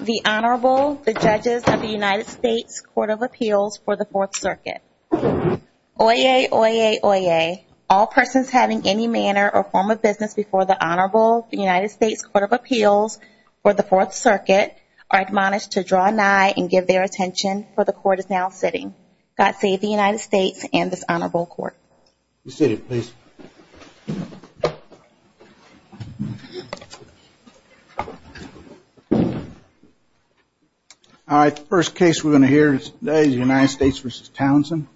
The Honorable, the Judges of the United States Court of Appeals for the Fourth Circuit. Oyez, oyez, oyez. All persons having any manner or form of business before the Honorable, the United States Court of Appeals for the Fourth Circuit are admonished to draw nigh and give their attention, for the Court is now sitting. God save the United States and this Honorable Court. Be seated, please. All right, the first case we're going to hear today is the United States v. Townsend.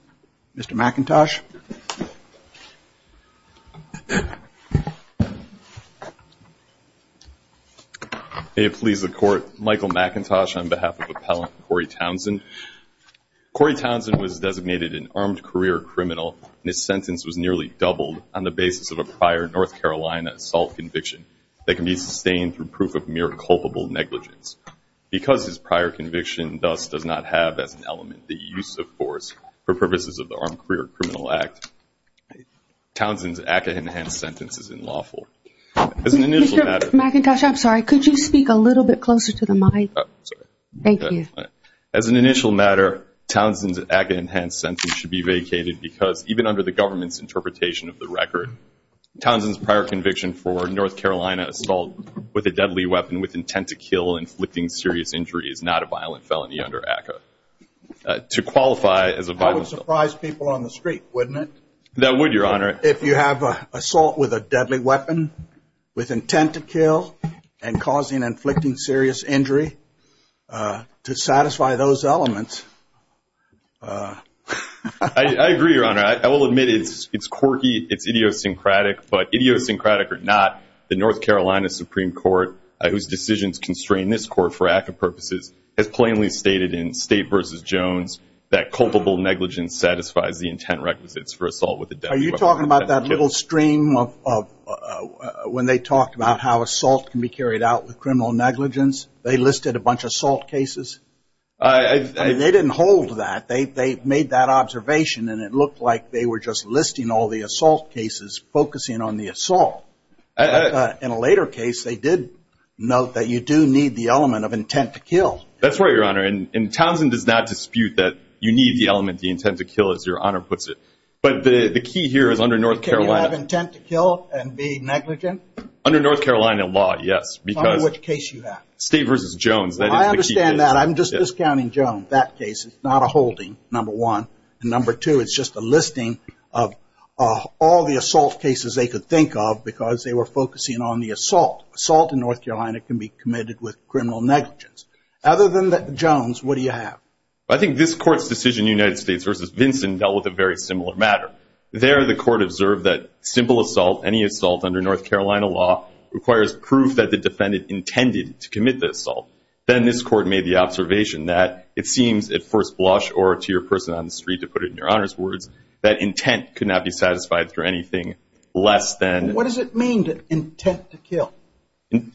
Mr. McIntosh. May it please the Court, Michael McIntosh on behalf of Appellant Corey Townsend. Corey Townsend was designated an armed career criminal and his sentence was nearly doubled on the basis of a prior North Carolina assault conviction that can be sustained through proof of mere culpable negligence. Because his prior conviction thus does not have as an element the use of force for purposes of the Armed Career Criminal Act, Townsend's act of enhanced sentence is unlawful. Mr. McIntosh, I'm sorry, could you speak a little bit closer to the mic? Thank you. As an initial matter, Townsend's act of enhanced sentence should be vacated because even under the government's interpretation of the record, Townsend's prior conviction for North Carolina assault with a deadly weapon with intent to kill inflicting serious injury is not a violent felony under ACCA. To qualify as a violent felon. That would surprise people on the street, wouldn't it? That would, Your Honor. If you have assault with a deadly weapon with intent to kill and causing inflicting serious injury to satisfy those elements. I agree, Your Honor. I will admit it's quirky, it's idiosyncratic, but idiosyncratic or not, the North Carolina Supreme Court, whose decisions constrain this court for ACCA purposes, has plainly stated in State v. Jones that culpable negligence satisfies the intent requisites for assault with a deadly weapon. Are you talking about that little stream when they talked about how assault can be carried out with criminal negligence? They listed a bunch of assault cases. They didn't hold that. They made that observation and it looked like they were just listing all the assault cases, focusing on the assault. In a later case, they did note that you do need the element of intent to kill. That's right, Your Honor. And Townsend does not dispute that you need the element of intent to kill, as Your Honor puts it. But the key here is under North Carolina… Do you have intent to kill and be negligent? Under North Carolina law, yes. Under which case you have? State v. Jones. I understand that. I'm just discounting Jones. That case is not a holding, number one. And number two, it's just a listing of all the assault cases they could think of because they were focusing on the assault. Assault in North Carolina can be committed with criminal negligence. Other than Jones, what do you have? I think this Court's decision in the United States v. Vinson dealt with a very similar matter. There, the Court observed that simple assault, any assault under North Carolina law, requires proof that the defendant intended to commit the assault. Then this Court made the observation that it seems, at first blush or to your person on the street, to put it in Your Honor's words, that intent could not be satisfied through anything less than… What does it mean, intent to kill?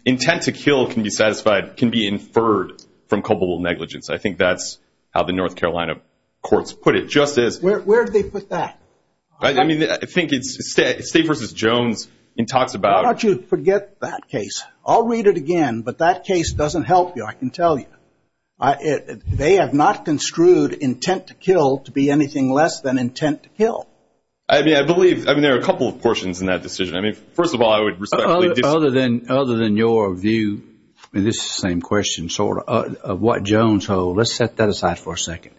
Intent to kill can be satisfied, can be inferred from culpable negligence. I think that's how the North Carolina courts put it. Where do they put that? I think it's State v. Jones. Why don't you forget that case? I'll read it again, but that case doesn't help you, I can tell you. They have not construed intent to kill to be anything less than intent to kill. I believe there are a couple of portions in that decision. First of all, I would respectfully disagree. Other than your view, and this is the same question, sort of, of what Jones holds, let's set that aside for a second.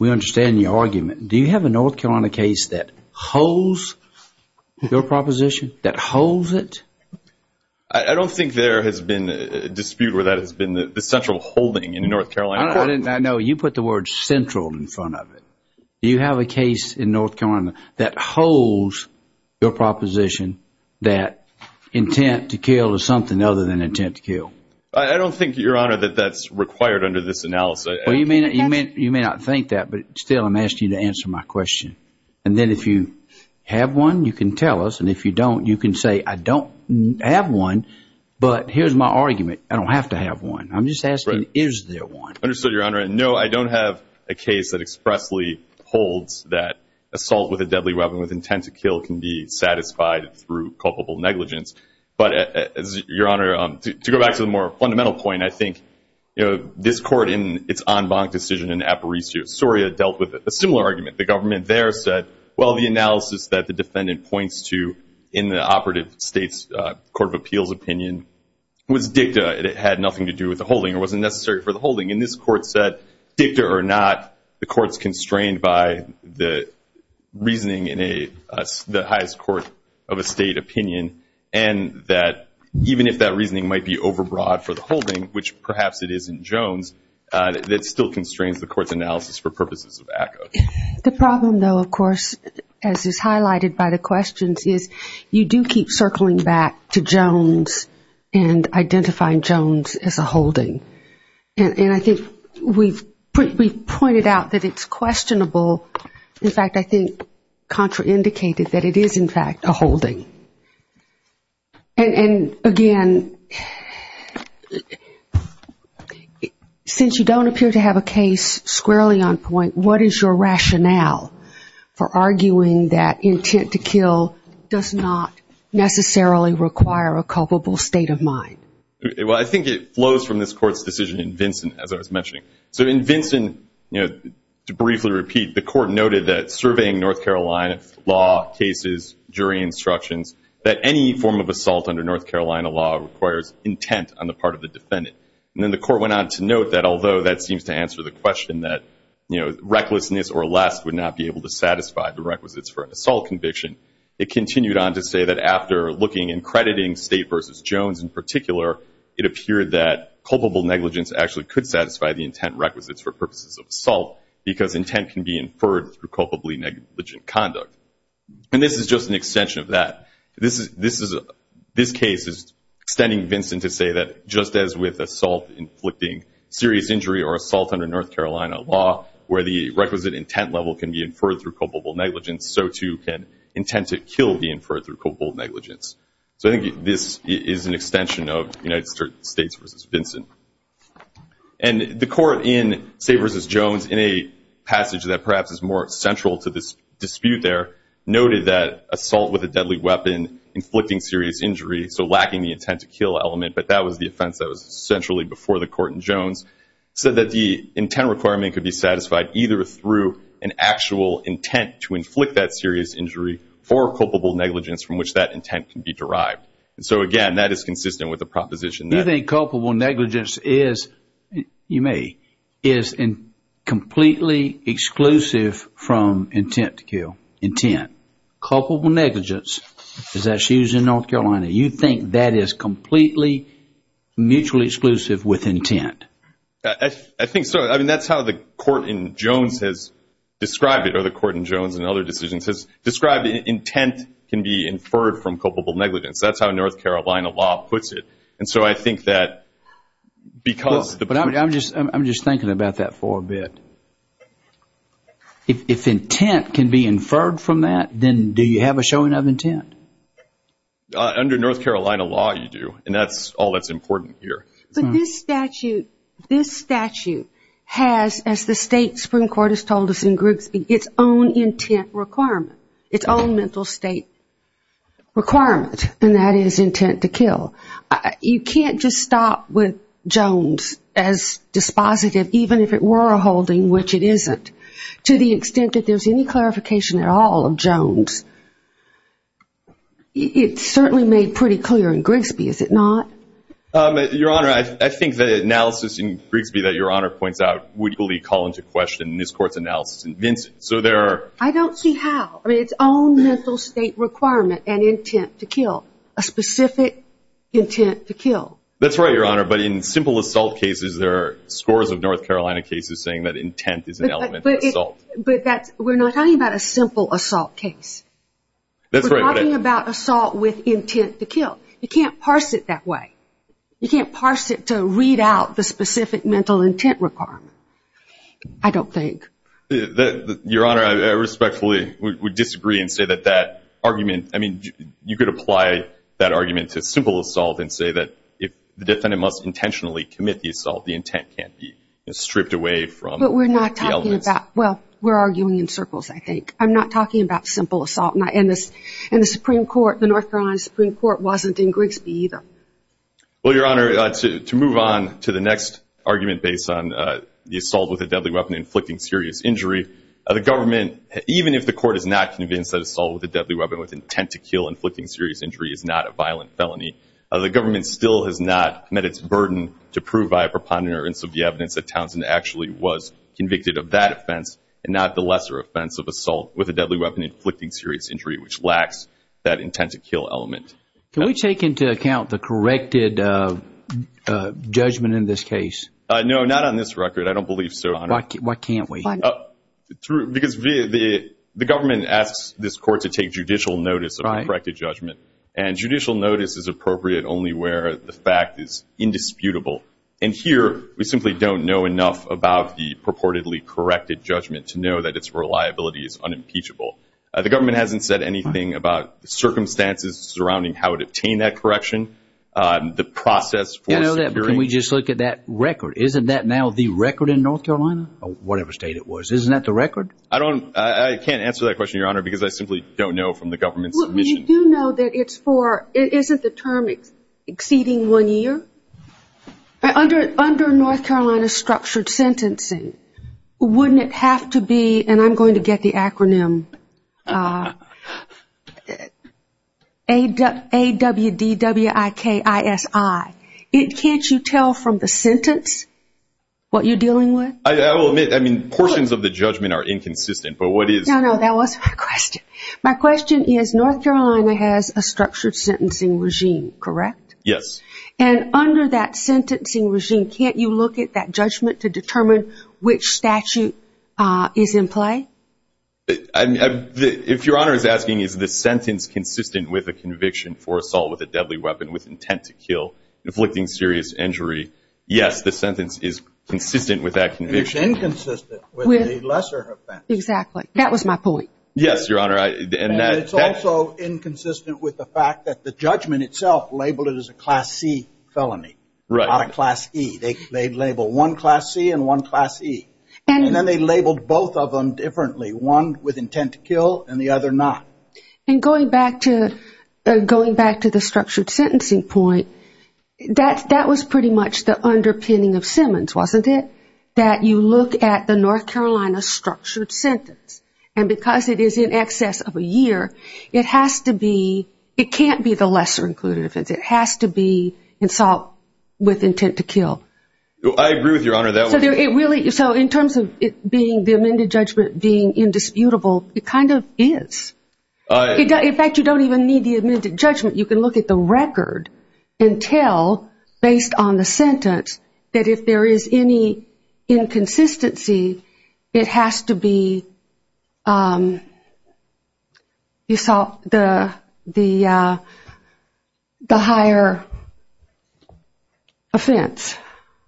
We understand your argument. Do you have a North Carolina case that holds your proposition, that holds it? I don't think there has been a dispute where that has been the central holding in the North Carolina court. I know. You put the word central in front of it. Do you have a case in North Carolina that holds your proposition that intent to kill is something other than intent to kill? I don't think, Your Honor, that that's required under this analysis. Well, you may not think that, but still I'm asking you to answer my question. And then if you have one, you can tell us, and if you don't, you can say, I don't have one, but here's my argument. I don't have to have one. I'm just asking, is there one? Understood, Your Honor. No, I don't have a case that expressly holds that assault with a deadly weapon with intent to kill can be satisfied through culpable negligence. But, Your Honor, to go back to the more fundamental point, I think this court in its en banc decision in Aparicio, Soria dealt with a similar argument. The government there said, well, the analysis that the defendant points to in the operative state's court of appeals opinion was dicta. It had nothing to do with the holding. It wasn't necessary for the holding. And this court said, dicta or not, the court's constrained by the reasoning in the highest court of a state opinion, and that even if that reasoning might be overbroad for the holding, which perhaps it isn't Jones, that still constrains the court's analysis for purposes of ACCA. The problem, though, of course, as is highlighted by the questions, is you do keep circling back to Jones and identifying Jones as a holding. And I think we've pointed out that it's questionable. In fact, I think Contra indicated that it is, in fact, a holding. And, again, since you don't appear to have a case squarely on point, what is your rationale for arguing that intent to kill does not necessarily require a culpable state of mind? Well, I think it flows from this court's decision in Vinson, as I was mentioning. So in Vinson, to briefly repeat, the court noted that surveying North Carolina law cases, jury instructions, that any form of assault under North Carolina law requires intent on the part of the defendant. And then the court went on to note that although that seems to answer the question that recklessness or less would not be able to satisfy the requisites for an assault conviction, it continued on to say that after looking and crediting State v. Jones in particular, it appeared that culpable negligence actually could satisfy the intent requisites for purposes of assault because intent can be inferred through culpably negligent conduct. And this is just an extension of that. This case is extending Vinson to say that just as with assault inflicting serious injury or assault under North Carolina law where the requisite intent level can be inferred through culpable negligence, so too can intent to kill be inferred through culpable negligence. So I think this is an extension of United States v. Vinson. And the court in, say, v. Jones, in a passage that perhaps is more central to this dispute there, noted that assault with a deadly weapon inflicting serious injury, so lacking the intent to kill element, but that was the offense that was centrally before the court in Jones, said that the intent requirement could be satisfied either through an actual intent to inflict that serious injury or culpable negligence from which that intent can be derived. And so, again, that is consistent with the proposition. Do you think culpable negligence is, you may, is completely exclusive from intent to kill? Intent. Culpable negligence is that she was in North Carolina. Do you think that is completely mutually exclusive with intent? I think so. I mean, that's how the court in Jones has described it, or the court in Jones and other decisions, has described intent can be inferred from culpable negligence. That's how North Carolina law puts it. And so I think that because the- But I'm just thinking about that for a bit. If intent can be inferred from that, then do you have a showing of intent? Under North Carolina law, you do, and that's all that's important here. But this statute, this statute has, as the state Supreme Court has told us in Grigsby, its own intent requirement, its own mental state requirement, and that is intent to kill. You can't just stop with Jones as dispositive, even if it were a holding, which it isn't, to the extent that there's any clarification at all of Jones. It's certainly made pretty clear in Grigsby, is it not? Your Honor, I think the analysis in Grigsby that Your Honor points out would equally call into question this Court's analysis in Vincent. So there are- I don't see how. I mean, its own mental state requirement and intent to kill, a specific intent to kill. That's right, Your Honor. But in simple assault cases, there are scores of North Carolina cases saying that intent is an element. But we're not talking about a simple assault case. That's right. We're talking about assault with intent to kill. You can't parse it that way. You can't parse it to read out the specific mental intent requirement, I don't think. Your Honor, I respectfully would disagree and say that that argument, I mean, you could apply that argument to simple assault and say that if the defendant must intentionally commit the assault, the intent can't be stripped away from the element. Well, we're arguing in circles, I think. I'm not talking about simple assault. And the Supreme Court, the North Carolina Supreme Court, wasn't in Grigsby either. Well, Your Honor, to move on to the next argument based on the assault with a deadly weapon inflicting serious injury, the government, even if the Court is not convinced that assault with a deadly weapon with intent to kill inflicting serious injury is not a violent felony, the government still has not met its burden to prove by a preponderance of the evidence that Townsend actually was committing that offense and not the lesser offense of assault with a deadly weapon inflicting serious injury, which lacks that intent to kill element. Can we take into account the corrected judgment in this case? No, not on this record. I don't believe so, Your Honor. Why can't we? Because the government asks this Court to take judicial notice of the corrected judgment. And judicial notice is appropriate only where the fact is indisputable. And here we simply don't know enough about the purportedly corrected judgment to know that its reliability is unimpeachable. The government hasn't said anything about the circumstances surrounding how it obtained that correction, the process for securing. Can we just look at that record? Isn't that now the record in North Carolina or whatever state it was? Isn't that the record? I can't answer that question, Your Honor, because I simply don't know from the government's mission. I do know that it's for, isn't the term exceeding one year? Under North Carolina structured sentencing, wouldn't it have to be, and I'm going to get the acronym, AWDWIKISI. Can't you tell from the sentence what you're dealing with? I will admit, I mean, portions of the judgment are inconsistent. No, no, that was my question. My question is North Carolina has a structured sentencing regime, correct? Yes. And under that sentencing regime, can't you look at that judgment to determine which statute is in play? If Your Honor is asking is the sentence consistent with a conviction for assault with a deadly weapon with intent to kill, inflicting serious injury, yes, the sentence is consistent with that conviction. It's inconsistent with the lesser offense. Exactly. That was my point. Yes, Your Honor. And it's also inconsistent with the fact that the judgment itself labeled it as a Class C felony. Right. Not a Class E. They labeled one Class C and one Class E. And then they labeled both of them differently, one with intent to kill and the other not. And going back to the structured sentencing point, that was pretty much the underpinning of Simmons, wasn't it? That you look at the North Carolina structured sentence. And because it is in excess of a year, it can't be the lesser included offense. It has to be assault with intent to kill. I agree with Your Honor. So in terms of the amended judgment being indisputable, it kind of is. In fact, you don't even need the amended judgment. You can look at the record and tell, based on the sentence, that if there is any inconsistency, it has to be the higher offense.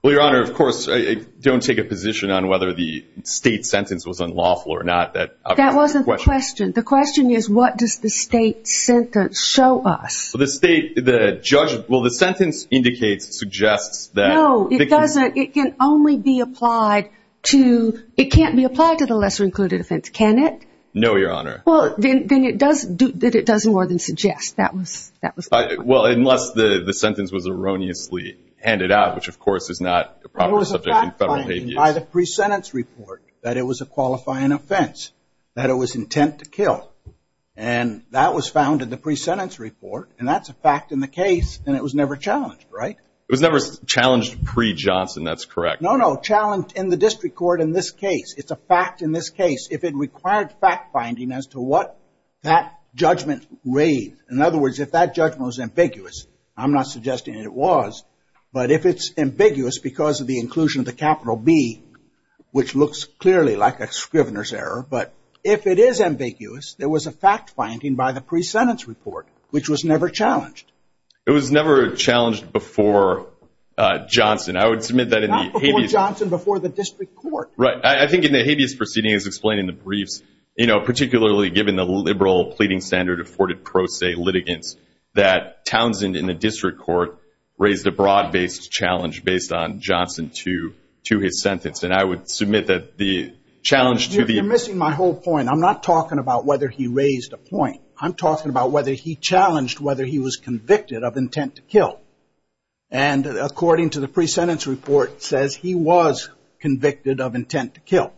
Well, Your Honor, of course, I don't take a position on whether the state sentence was unlawful or not. That wasn't the question. The question is, what does the state sentence show us? Well, the sentence indicates, suggests that. No, it doesn't. It can only be applied to – it can't be applied to the lesser included offense, can it? No, Your Honor. Well, then it does more than suggest. That was the point. Well, unless the sentence was erroneously handed out, which, of course, is not a proper subject in federal habeas. By the pre-sentence report, that it was a qualifying offense, that it was intent to kill. And that was found in the pre-sentence report, and that's a fact in the case, and it was never challenged, right? It was never challenged pre-Johnson. That's correct. No, no, challenged in the district court in this case. It's a fact in this case. If it required fact-finding as to what that judgment read. In other words, if that judgment was ambiguous – I'm not suggesting it was – but if it's ambiguous because of the inclusion of the capital B, which looks clearly like a Scrivener's error, but if it is ambiguous, there was a fact-finding by the pre-sentence report, which was never challenged. It was never challenged before Johnson. I would submit that in the habeas – Not before Johnson, before the district court. Right. I think in the habeas proceeding, as explained in the briefs, you know, particularly given the liberal pleading standard afforded pro se litigants, that Townsend in the district court raised a broad-based challenge based on Johnson to his sentence. And I would submit that the challenge to the – You're missing my whole point. I'm not talking about whether he raised a point. I'm talking about whether he challenged whether he was convicted of intent to kill. And according to the pre-sentence report, it says he was convicted of intent to kill.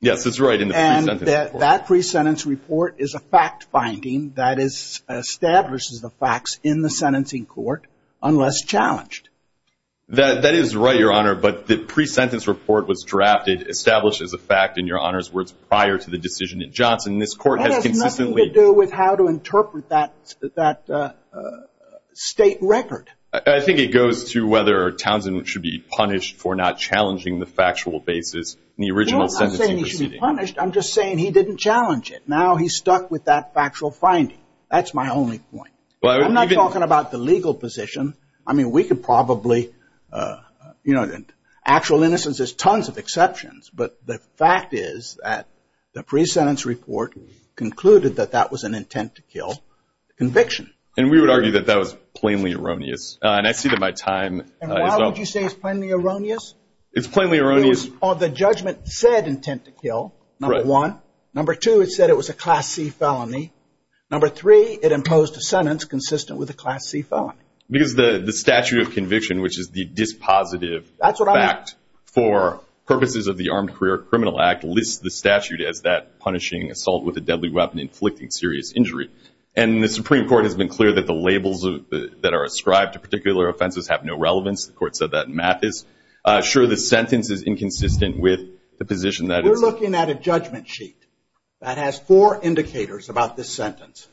Yes, that's right, in the pre-sentence report. The pre-sentence report is a fact-finding that establishes the facts in the sentencing court unless challenged. That is right, Your Honor, but the pre-sentence report was drafted, established as a fact, in Your Honor's words, prior to the decision at Johnson. This court has consistently – That has nothing to do with how to interpret that state record. I think it goes to whether Townsend should be punished for not challenging the factual basis in the original sentencing proceeding. No, I'm not saying he should be punished. I'm just saying he didn't challenge it. Now he's stuck with that factual finding. That's my only point. I'm not talking about the legal position. I mean, we could probably – you know, actual innocence, there's tons of exceptions, but the fact is that the pre-sentence report concluded that that was an intent to kill conviction. And we would argue that that was plainly erroneous, and I see that my time is up. And why would you say it's plainly erroneous? It's plainly erroneous – The judgment said intent to kill, number one. Number two, it said it was a Class C felony. Number three, it imposed a sentence consistent with a Class C felony. Because the statute of conviction, which is the dispositive fact for purposes of the Armed Career Criminal Act, lists the statute as that punishing assault with a deadly weapon inflicting serious injury. And the Supreme Court has been clear that the labels that are ascribed to particular offenses have no relevance. The court said that in Mathis. We're looking at a judgment sheet that has four indicators about this sentence,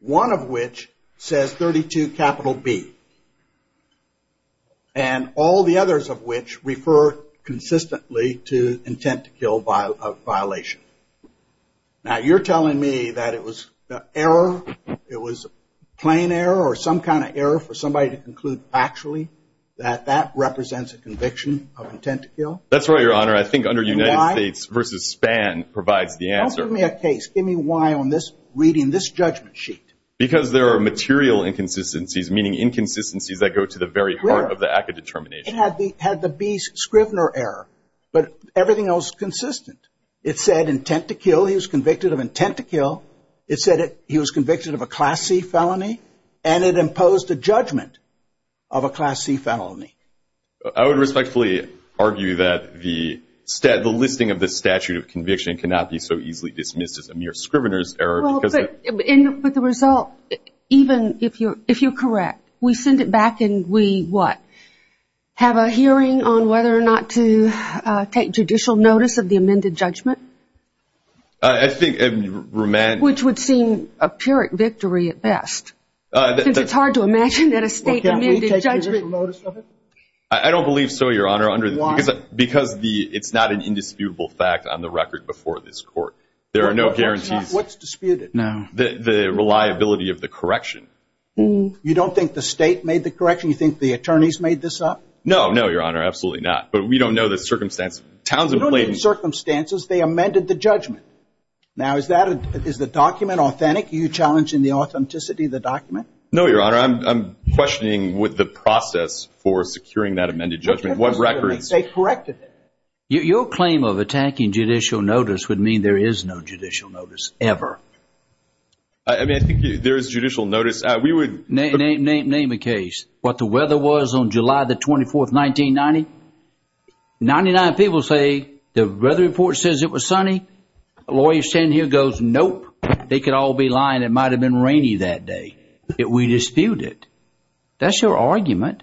one of which says 32 capital B, and all the others of which refer consistently to intent to kill violation. Now, you're telling me that it was error, it was plain error, or some kind of error for somebody to conclude factually that that represents a conviction of intent to kill? That's right, Your Honor. I think under United States v. Spann provides the answer. Don't give me a case. Give me why I'm reading this judgment sheet. Because there are material inconsistencies, meaning inconsistencies that go to the very heart of the act of determination. It had the B, Scrivner error, but everything else is consistent. It said intent to kill. He was convicted of intent to kill. It said he was convicted of a Class C felony, and it imposed a judgment of a Class C felony. I would respectfully argue that the listing of the statute of conviction cannot be so easily dismissed as a mere Scrivner's error. Well, but the result, even if you're correct, we send it back and we, what, have a hearing on whether or not to take judicial notice of the amended judgment? I think it would be romantic. Which would seem a Pyrrhic victory at best, since it's hard to imagine that a state amended judgment. I don't believe so, Your Honor. Why? Because it's not an indisputable fact on the record before this court. There are no guarantees. What's disputed? The reliability of the correction. You don't think the state made the correction? You think the attorneys made this up? No, no, Your Honor, absolutely not. But we don't know the circumstances. You don't know the circumstances. They amended the judgment. Now, is the document authentic? Are you challenging the authenticity of the document? No, Your Honor. I'm questioning with the process for securing that amended judgment. What records? They corrected it. Your claim of attacking judicial notice would mean there is no judicial notice ever. I mean, I think there is judicial notice. Name a case. What the weather was on July the 24th, 1990. Ninety-nine people say the weather report says it was sunny. A lawyer standing here goes, nope, they could all be lying. It might have been rainy that day. We dispute it. That's your argument,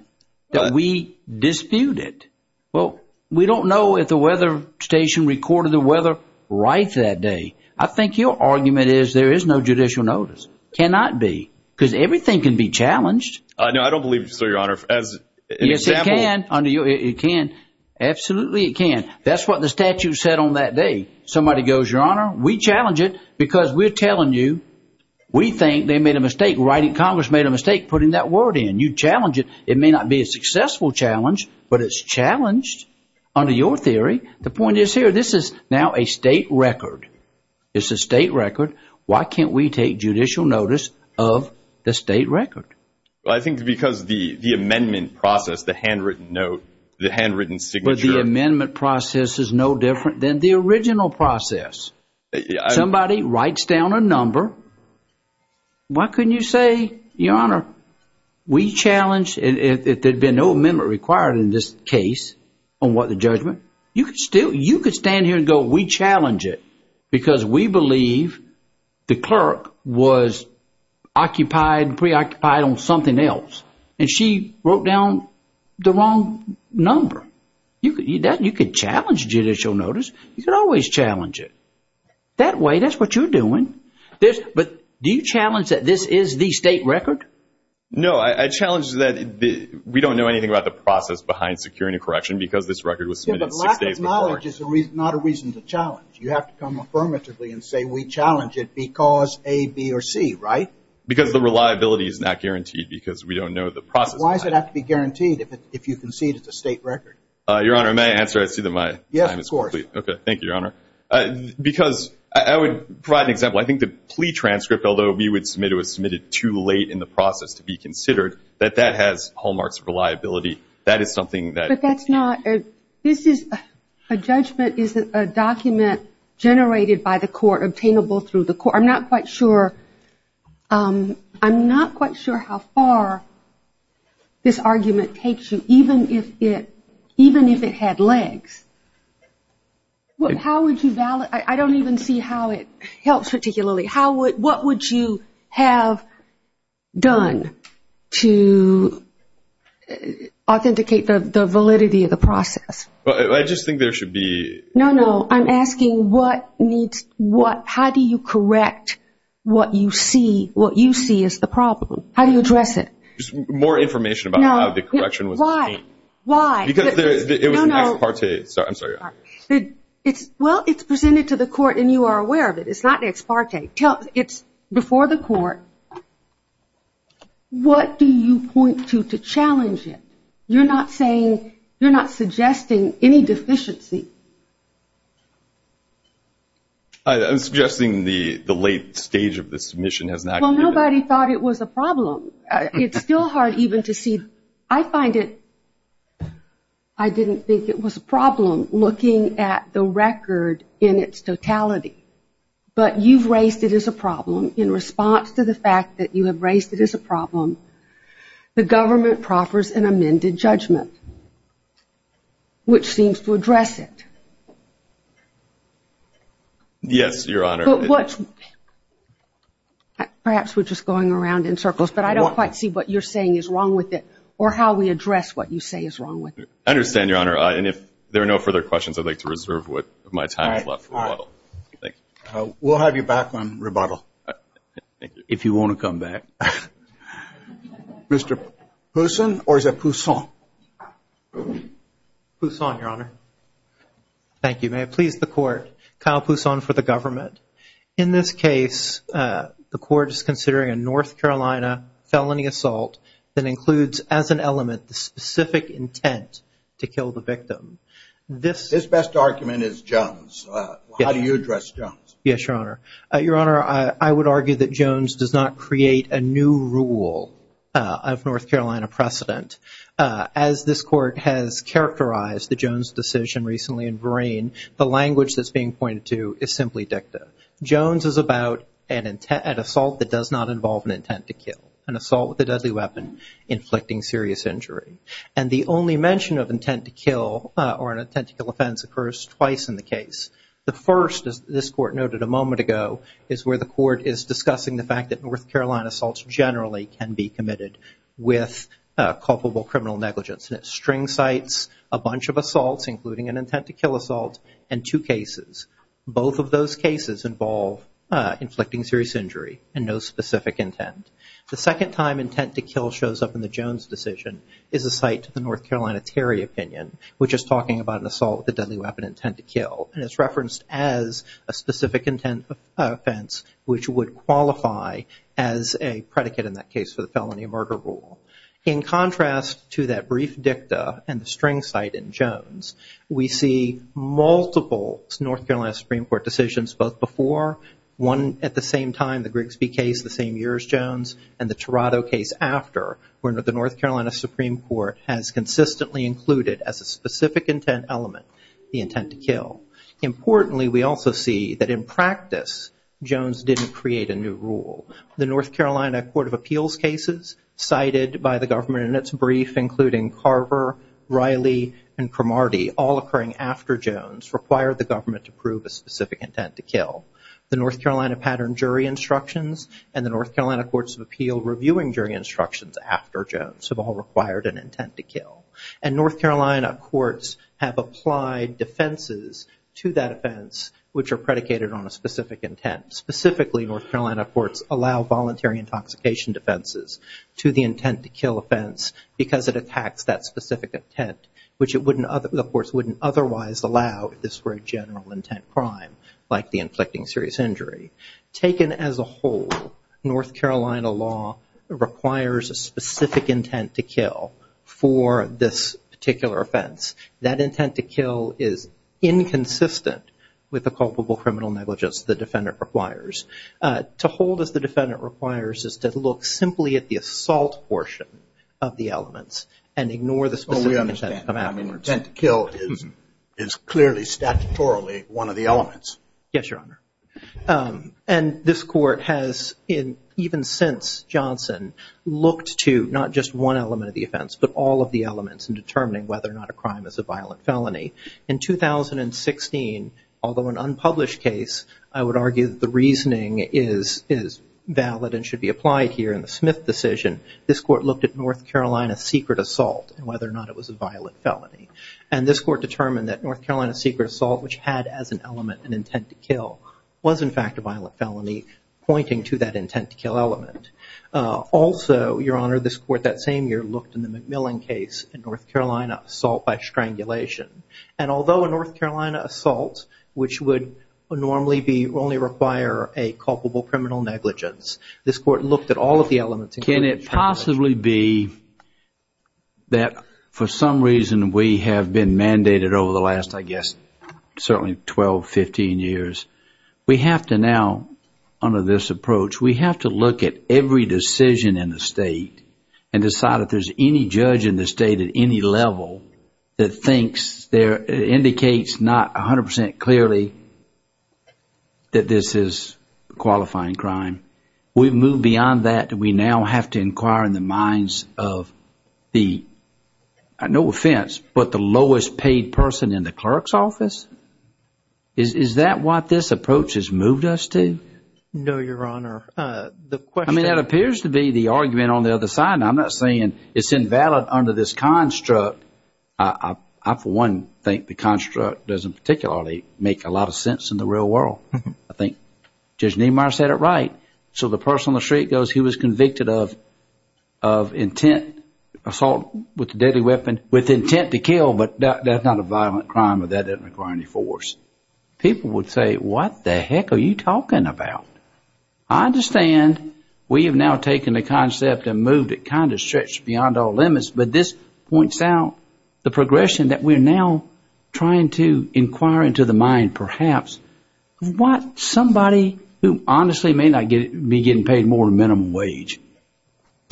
that we dispute it. Well, we don't know if the weather station recorded the weather right that day. I think your argument is there is no judicial notice. Cannot be because everything can be challenged. No, I don't believe so, Your Honor. As an example. Yes, it can. It can. Absolutely it can. That's what the statute said on that day. Somebody goes, Your Honor, we challenge it because we're telling you we think they made a mistake. Congress made a mistake putting that word in. You challenge it. It may not be a successful challenge, but it's challenged under your theory. The point is here, this is now a state record. It's a state record. Why can't we take judicial notice of the state record? I think it's because the amendment process, the handwritten note, the handwritten signature. I think the amendment process is no different than the original process. Somebody writes down a number. Why couldn't you say, Your Honor, we challenge, if there had been no amendment required in this case on what the judgment, you could stand here and go, we challenge it because we believe the clerk was occupied, preoccupied on something else. And she wrote down the wrong number. You could challenge judicial notice. You could always challenge it. That way, that's what you're doing. But do you challenge that this is the state record? No, I challenge that we don't know anything about the process behind securing a correction because this record was submitted six days before. Lack of knowledge is not a reason to challenge. You have to come affirmatively and say we challenge it because A, B, or C, right? Because the reliability is not guaranteed because we don't know the process. Why does it have to be guaranteed if you concede it's a state record? Your Honor, may I answer? I see that my time is complete. Yes, of course. Okay. Thank you, Your Honor. Because I would provide an example. I think the plea transcript, although we would submit it was submitted too late in the process to be considered, that that has hallmarks of reliability. That is something that – I'm not quite sure how far this argument takes you, even if it had legs. How would you – I don't even see how it helps particularly. What would you have done to authenticate the validity of the process? I just think there should be – No, no. I'm asking what needs – how do you correct what you see is the problem? How do you address it? Just more information about how the correction was made. Because it was an ex parte. No, no. I'm sorry. Well, it's presented to the court and you are aware of it. It's not an ex parte. It's before the court. What do you point to to challenge it? You're not saying – you're not suggesting any deficiency. I'm suggesting the late stage of the submission has not – Well, nobody thought it was a problem. It's still hard even to see. I find it – I didn't think it was a problem looking at the record in its totality. But you've raised it as a problem in response to the fact that you have raised it as a problem. The government proffers an amended judgment, which seems to address it. Yes, Your Honor. But what – perhaps we're just going around in circles, but I don't quite see what you're saying is wrong with it or how we address what you say is wrong with it. I understand, Your Honor. And if there are no further questions, I'd like to reserve what my time has left. All right. Thank you. We'll have you back on rebuttal if you want to come back. Mr. Poussin or is it Poussin? Poussin, Your Honor. Thank you. May it please the Court, Kyle Poussin for the government. In this case, the Court is considering a North Carolina felony assault that includes as an element the specific intent to kill the victim. This – This best argument is Jones. How do you address Jones? Yes, Your Honor. Your Honor, I would argue that Jones does not create a new rule of North Carolina precedent. As this Court has characterized the Jones decision recently in Verain, the language that's being pointed to is simply dicta. Jones is about an assault that does not involve an intent to kill, an assault with a deadly weapon inflicting serious injury. And the only mention of intent to kill or an intent to kill offense occurs twice in the case. The first, as this Court noted a moment ago, is where the Court is discussing the fact that North Carolina assaults generally can be committed with culpable criminal negligence. And it string cites a bunch of assaults, including an intent to kill assault, and two cases. Both of those cases involve inflicting serious injury and no specific intent. The second time intent to kill shows up in the Jones decision is a cite to the North Carolina Terry opinion, which is talking about an assault with a deadly weapon intent to kill. And it's referenced as a specific intent offense, which would qualify as a predicate in that case for the felony murder rule. In contrast to that brief dicta and the string cite in Jones, we see multiple North Carolina Supreme Court decisions both before, one at the same time, the Grigsby case the same year as Jones, and the Tirado case after, where the North Carolina Supreme Court has consistently included as a specific intent element the intent to kill. Importantly, we also see that in practice, Jones didn't create a new rule. The North Carolina Court of Appeals cases cited by the government in its brief, including Carver, Riley, and Cromartie, all occurring after Jones, required the government to prove a specific intent to kill. The North Carolina pattern jury instructions and the North Carolina Courts of Appeals reviewing jury instructions after Jones have all required an intent to kill. And North Carolina courts have applied defenses to that offense, which are predicated on a specific intent. Specifically, North Carolina courts allow voluntary intoxication defenses to the intent to kill offense because it attacks that specific intent, which the courts wouldn't otherwise allow if this were a general intent crime, like the inflicting serious injury. Taken as a whole, North Carolina law requires a specific intent to kill for this particular offense. That intent to kill is inconsistent with the culpable criminal negligence the defendant requires. To hold as the defendant requires is to look simply at the assault portion of the elements and ignore the specific intent. Oh, we understand. I mean, intent to kill is clearly statutorily one of the elements. Yes, Your Honor. And this court has, even since Johnson, looked to not just one element of the offense, but all of the elements in determining whether or not a crime is a violent felony. In 2016, although an unpublished case, I would argue that the reasoning is valid and should be applied here in the Smith decision, this court looked at North Carolina secret assault and whether or not it was a violent felony. And this court determined that North Carolina secret assault, which had as an element an intent to kill, was in fact a violent felony pointing to that intent to kill element. Also, Your Honor, this court that same year looked in the McMillan case at North Carolina assault by strangulation. And although a North Carolina assault, which would normally only require a culpable criminal negligence, this court looked at all of the elements. Can it possibly be that for some reason we have been mandated over the last, I guess, certainly 12, 15 years, we have to now, under this approach, we have to look at every decision in the state and decide if there's any judge in the state at any level that thinks, that indicates not 100% clearly that this is a qualifying crime. We've moved beyond that. Do we now have to inquire in the minds of the, no offense, but the lowest paid person in the clerk's office? Is that what this approach has moved us to? No, Your Honor. I mean, that appears to be the argument on the other side. I'm not saying it's invalid under this construct. I, for one, think the construct doesn't particularly make a lot of sense in the real world. I think Judge Niemeyer said it right. So the person on the street goes, he was convicted of intent, assault with a deadly weapon with intent to kill, but that's not a violent crime or that doesn't require any force. People would say, what the heck are you talking about? I understand we have now taken the concept and moved it kind of stretched beyond all limits, but this points out the progression that we're now trying to inquire into the mind, perhaps, what somebody who honestly may not be getting paid more than minimum wage,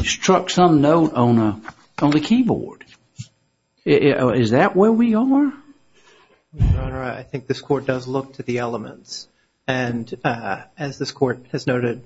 struck some note on the keyboard. Is that where we are? Your Honor, I think this Court does look to the elements, and as this Court has noted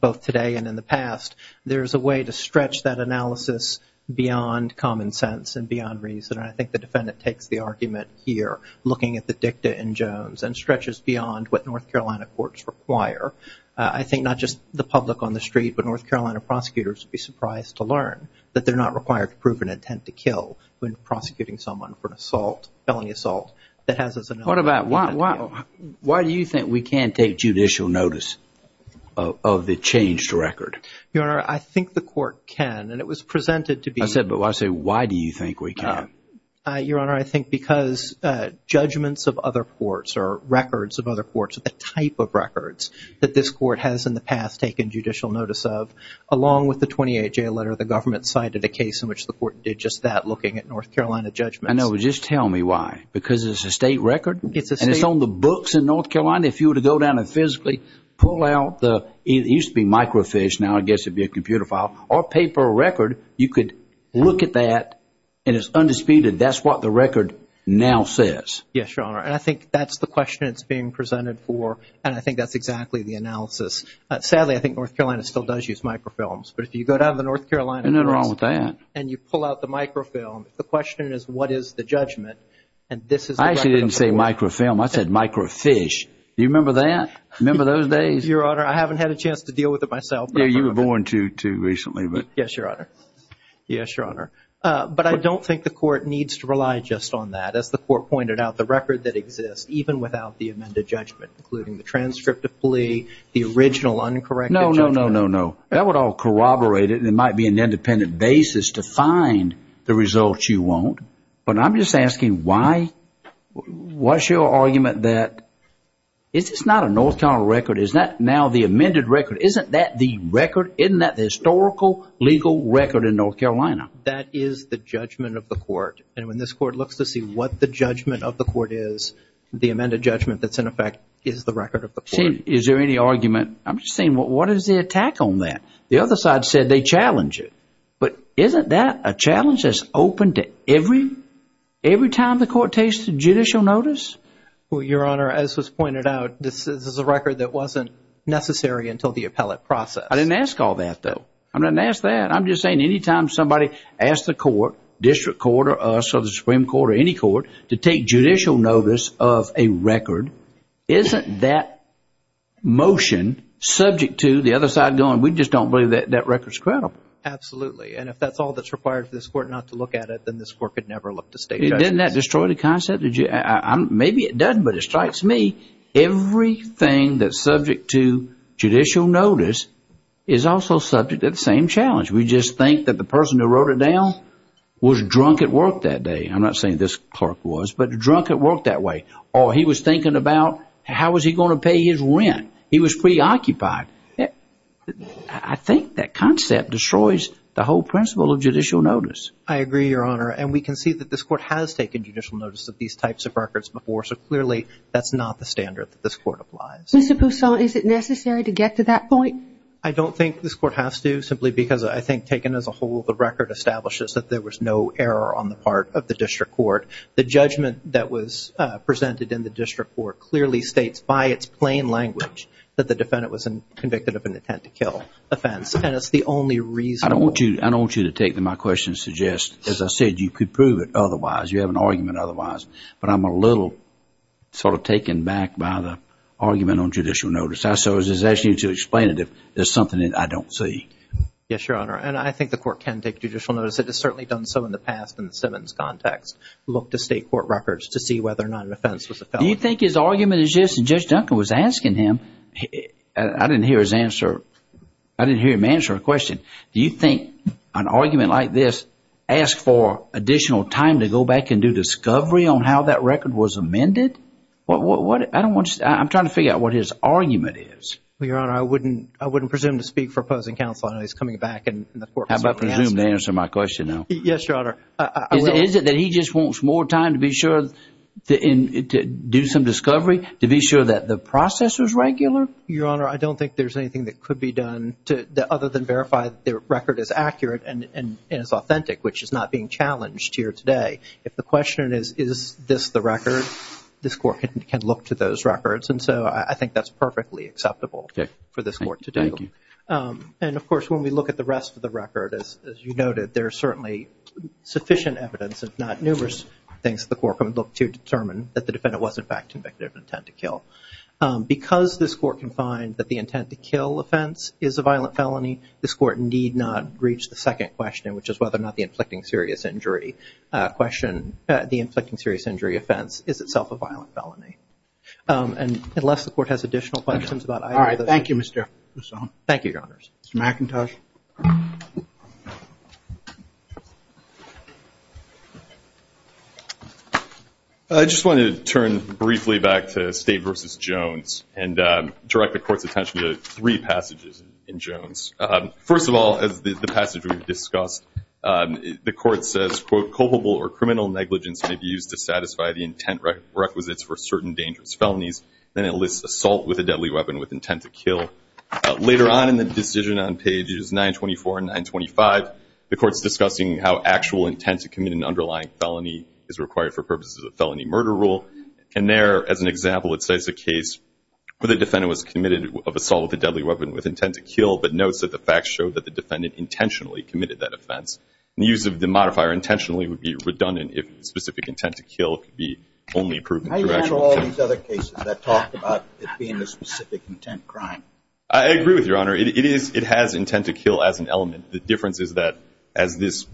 both today and in the past, there's a way to stretch that analysis beyond common sense and beyond reason, and I think the defendant takes the argument here, looking at the dicta in Jones, and stretches beyond what North Carolina courts require. I think not just the public on the street, but North Carolina prosecutors would be surprised to learn that they're not required to prove an intent to kill when prosecuting someone for an assault, felony assault, that has as an element. Why do you think we can't take judicial notice of the changed record? Your Honor, I think the Court can, and it was presented to be... I said, but I say, why do you think we can't? Your Honor, I think because judgments of other courts or records of other courts, the type of records that this Court has in the past taken judicial notice of, along with the 28-J letter the government cited, a case in which the Court did just that, looking at North Carolina judgments. I know, but just tell me why, because it's a state record? And it's on the books in North Carolina? If you were to go down and physically pull out the... it used to be microfiche, now I guess it'd be a computer file, or paper record, you could look at that, and it's undisputed, that's what the record now says. Yes, Your Honor, and I think that's the question it's being presented for, and I think that's exactly the analysis. Sadly, I think North Carolina still does use microfilms, but if you go down to the North Carolina courts... There's nothing wrong with that. ...and you pull out the microfilm, the question is, what is the judgment? I actually didn't say microfilm, I said microfiche. Do you remember that? Remember those days? Your Honor, I haven't had a chance to deal with it myself. Yeah, you were born too recently. Yes, Your Honor. Yes, Your Honor. But I don't think the Court needs to rely just on that. As the Court pointed out, the record that exists, even without the amended judgment, including the transcript of plea, the original uncorrected judgment. No, no, no, no, no. That would all corroborate it, and it might be an independent basis to find the results you want. But I'm just asking why? What's your argument that it's just not a North Carolina record? Is that now the amended record? Isn't that the record? Isn't that the historical legal record in North Carolina? That is the judgment of the Court, and when this Court looks to see what the judgment of the Court is, the amended judgment that's in effect is the record of the Court. Is there any argument? I'm just saying, what is the attack on that? The other side said they challenge it. But isn't that a challenge that's open to every time the Court takes judicial notice? Well, Your Honor, as was pointed out, this is a record that wasn't necessary until the appellate process. I didn't ask all that, though. I didn't ask that. I'm just saying any time somebody asks the Court, District Court or us or the Supreme Court or any court, to take judicial notice of a record, isn't that motion subject to the other side going, we just don't believe that that record's credible? Absolutely. And if that's all that's required for this Court not to look at it, then this Court could never look to state judges. Didn't that destroy the concept? Maybe it doesn't, but it strikes me. Everything that's subject to judicial notice is also subject to the same challenge. We just think that the person who wrote it down was drunk at work that day. I'm not saying this clerk was, but drunk at work that way. Or he was thinking about how was he going to pay his rent. He was preoccupied. I think that concept destroys the whole principle of judicial notice. I agree, Your Honor, and we can see that this Court has taken judicial notice of these types of records before, so clearly that's not the standard that this Court applies. Mr. Poussin, is it necessary to get to that point? I don't think this Court has to, simply because I think taken as a whole the record establishes that there was no error on the part of the District Court. The judgment that was presented in the District Court clearly states by its plain language that the defendant was convicted of an attempt to kill offense, and it's the only reasonable. I don't want you to take my question and suggest, as I said, you could prove it otherwise. You have an argument otherwise, but I'm a little sort of taken back by the argument on judicial notice. So I was just asking you to explain it if there's something that I don't see. Yes, Your Honor, and I think the Court can take judicial notice. It has certainly done so in the past in the Simmons context. Look to State Court records to see whether or not an offense was a felony. Do you think his argument is just, and Judge Duncan was asking him, I didn't hear him answer a question. Do you think an argument like this asks for additional time to go back and do discovery on how that record was amended? I'm trying to figure out what his argument is. Well, Your Honor, I wouldn't presume to speak for opposing counsel. I know he's coming back and the Court is going to ask him. How about presume to answer my question now? Yes, Your Honor. Is it that he just wants more time to be sure to do some discovery, to be sure that the process was regular? Your Honor, I don't think there's anything that could be done other than verify that the record is accurate and is authentic, which is not being challenged here today. If the question is, is this the record, this Court can look to those records, and so I think that's perfectly acceptable for this Court to do. Thank you. And, of course, when we look at the rest of the record, as you noted, there's certainly sufficient evidence, if not numerous things, that the Court can look to determine that the defendant was, in fact, convicted of intent to kill. Because this Court can find that the intent to kill offense is a violent felony, this Court need not reach the second question, which is whether or not the inflicting serious injury offense is itself a violent felony. And unless the Court has additional questions about either of those things. All right. Thank you, Mr. Lasone. Thank you, Your Honors. Mr. McIntosh. I just wanted to turn briefly back to State v. Jones and direct the Court's attention to three passages in Jones. First of all, as the passage we've discussed, the Court says, quote, culpable or criminal negligence may be used to satisfy the intent requisites for certain dangerous felonies. Then it lists assault with a deadly weapon with intent to kill. Later on in the decision on pages 924 and 925, the Court's discussing how actual intent to commit an underlying felony is required for purposes of felony murder rule. And there, as an example, it says a case where the defendant was committed of assault with a deadly weapon with intent to kill, but notes that the facts show that the defendant intentionally committed that offense. And the use of the modifier intentionally would be redundant if specific intent to kill could be only proven through actual offense. Does that talk about it being a specific intent crime? I agree with you, Your Honor. It has intent to kill as an element. The difference is that as this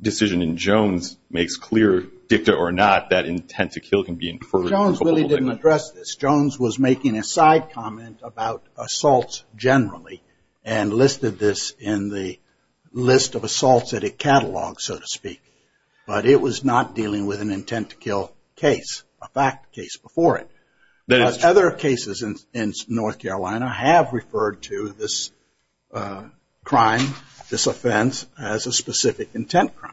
decision in Jones makes clear, dicta or not, that intent to kill can be inferred. Jones really didn't address this. Jones was making a side comment about assaults generally and listed this in the list of assaults that it catalogs, so to speak. But it was not dealing with an intent to kill case, a fact case before it. Other cases in North Carolina have referred to this crime, this offense, as a specific intent crime.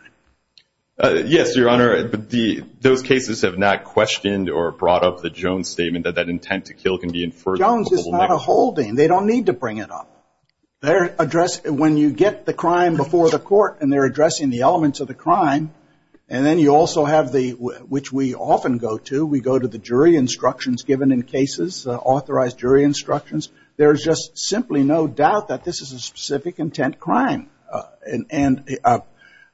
Yes, Your Honor. Those cases have not questioned or brought up the Jones statement that that intent to kill can be inferred. Jones is not a holding. They don't need to bring it up. When you get the crime before the court and they're addressing the elements of the crime, and then you also have the, which we often go to, we go to the jury instructions given in cases, authorized jury instructions, there is just simply no doubt that this is a specific intent crime. And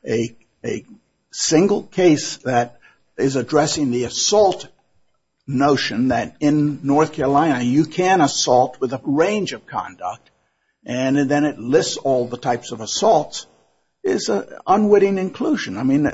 a single case that is addressing the assault notion that in North Carolina you can assault with a range of conduct, and then it lists all the types of assaults, is unwitting inclusion. I mean,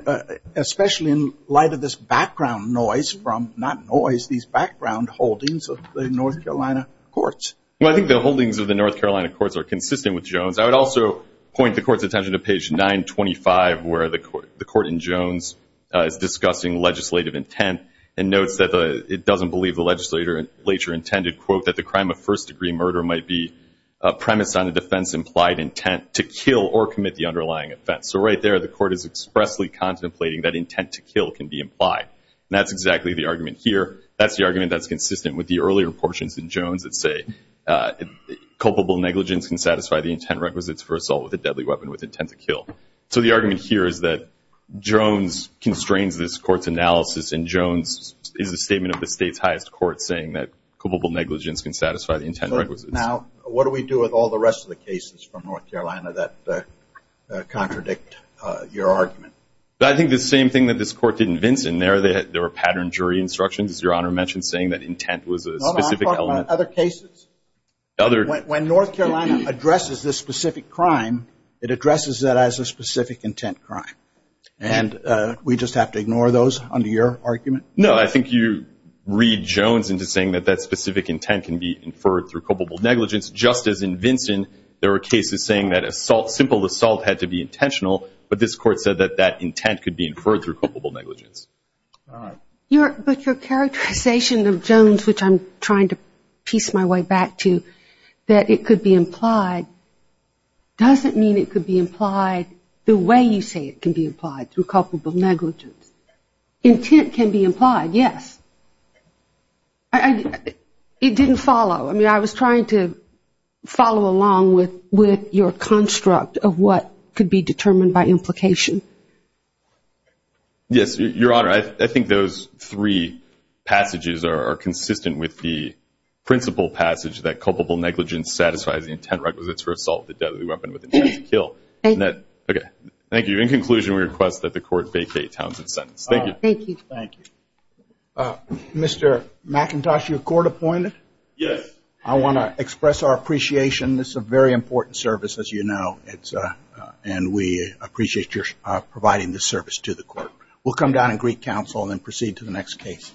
especially in light of this background noise from, not noise, these background holdings of the North Carolina courts. Well, I think the holdings of the North Carolina courts are consistent with Jones. I would also point the court's attention to page 925 where the court in Jones is discussing legislative intent and notes that it doesn't believe the legislator later intended, quote, that the crime of first degree murder might be premised on a defense implied intent to kill or commit the underlying offense. So right there the court is expressly contemplating that intent to kill can be implied. And that's exactly the argument here. That's the argument that's consistent with the earlier portions in Jones that say culpable negligence can satisfy the intent requisites for assault with a deadly weapon with intent to kill. So the argument here is that Jones constrains this court's analysis, and Jones is a statement of the state's highest court saying that culpable negligence can satisfy the intent requisites. Now, what do we do with all the rest of the cases from North Carolina that contradict your argument? I think the same thing that this court did in Vinson. There were patterned jury instructions, as Your Honor mentioned, saying that intent was a specific element. Other cases? When North Carolina addresses this specific crime, it addresses that as a specific intent crime. And we just have to ignore those under your argument? No. I think you read Jones into saying that that specific intent can be inferred through culpable negligence, just as in Vinson. There were cases saying that simple assault had to be intentional, but this court said that that intent could be inferred through culpable negligence. All right. But your characterization of Jones, which I'm trying to piece my way back to, that it could be implied doesn't mean it could be implied the way you say it can be implied through culpable negligence. Intent can be implied, yes. It didn't follow. I mean, I was trying to follow along with your construct of what could be determined by implication. Yes, Your Honor. I think those three passages are consistent with the principal passage that culpable negligence satisfies the intent requisites for assault, the deadly weapon with intent to kill. Thank you. Thank you. In conclusion, we request that the court vacate Townsend's sentence. Thank you. Thank you. Mr. McIntosh, you're court appointed? Yes. I want to express our appreciation. This is a very important service, as you know, and we appreciate your providing this service to the court. We'll come down and greet counsel and then proceed to the next case.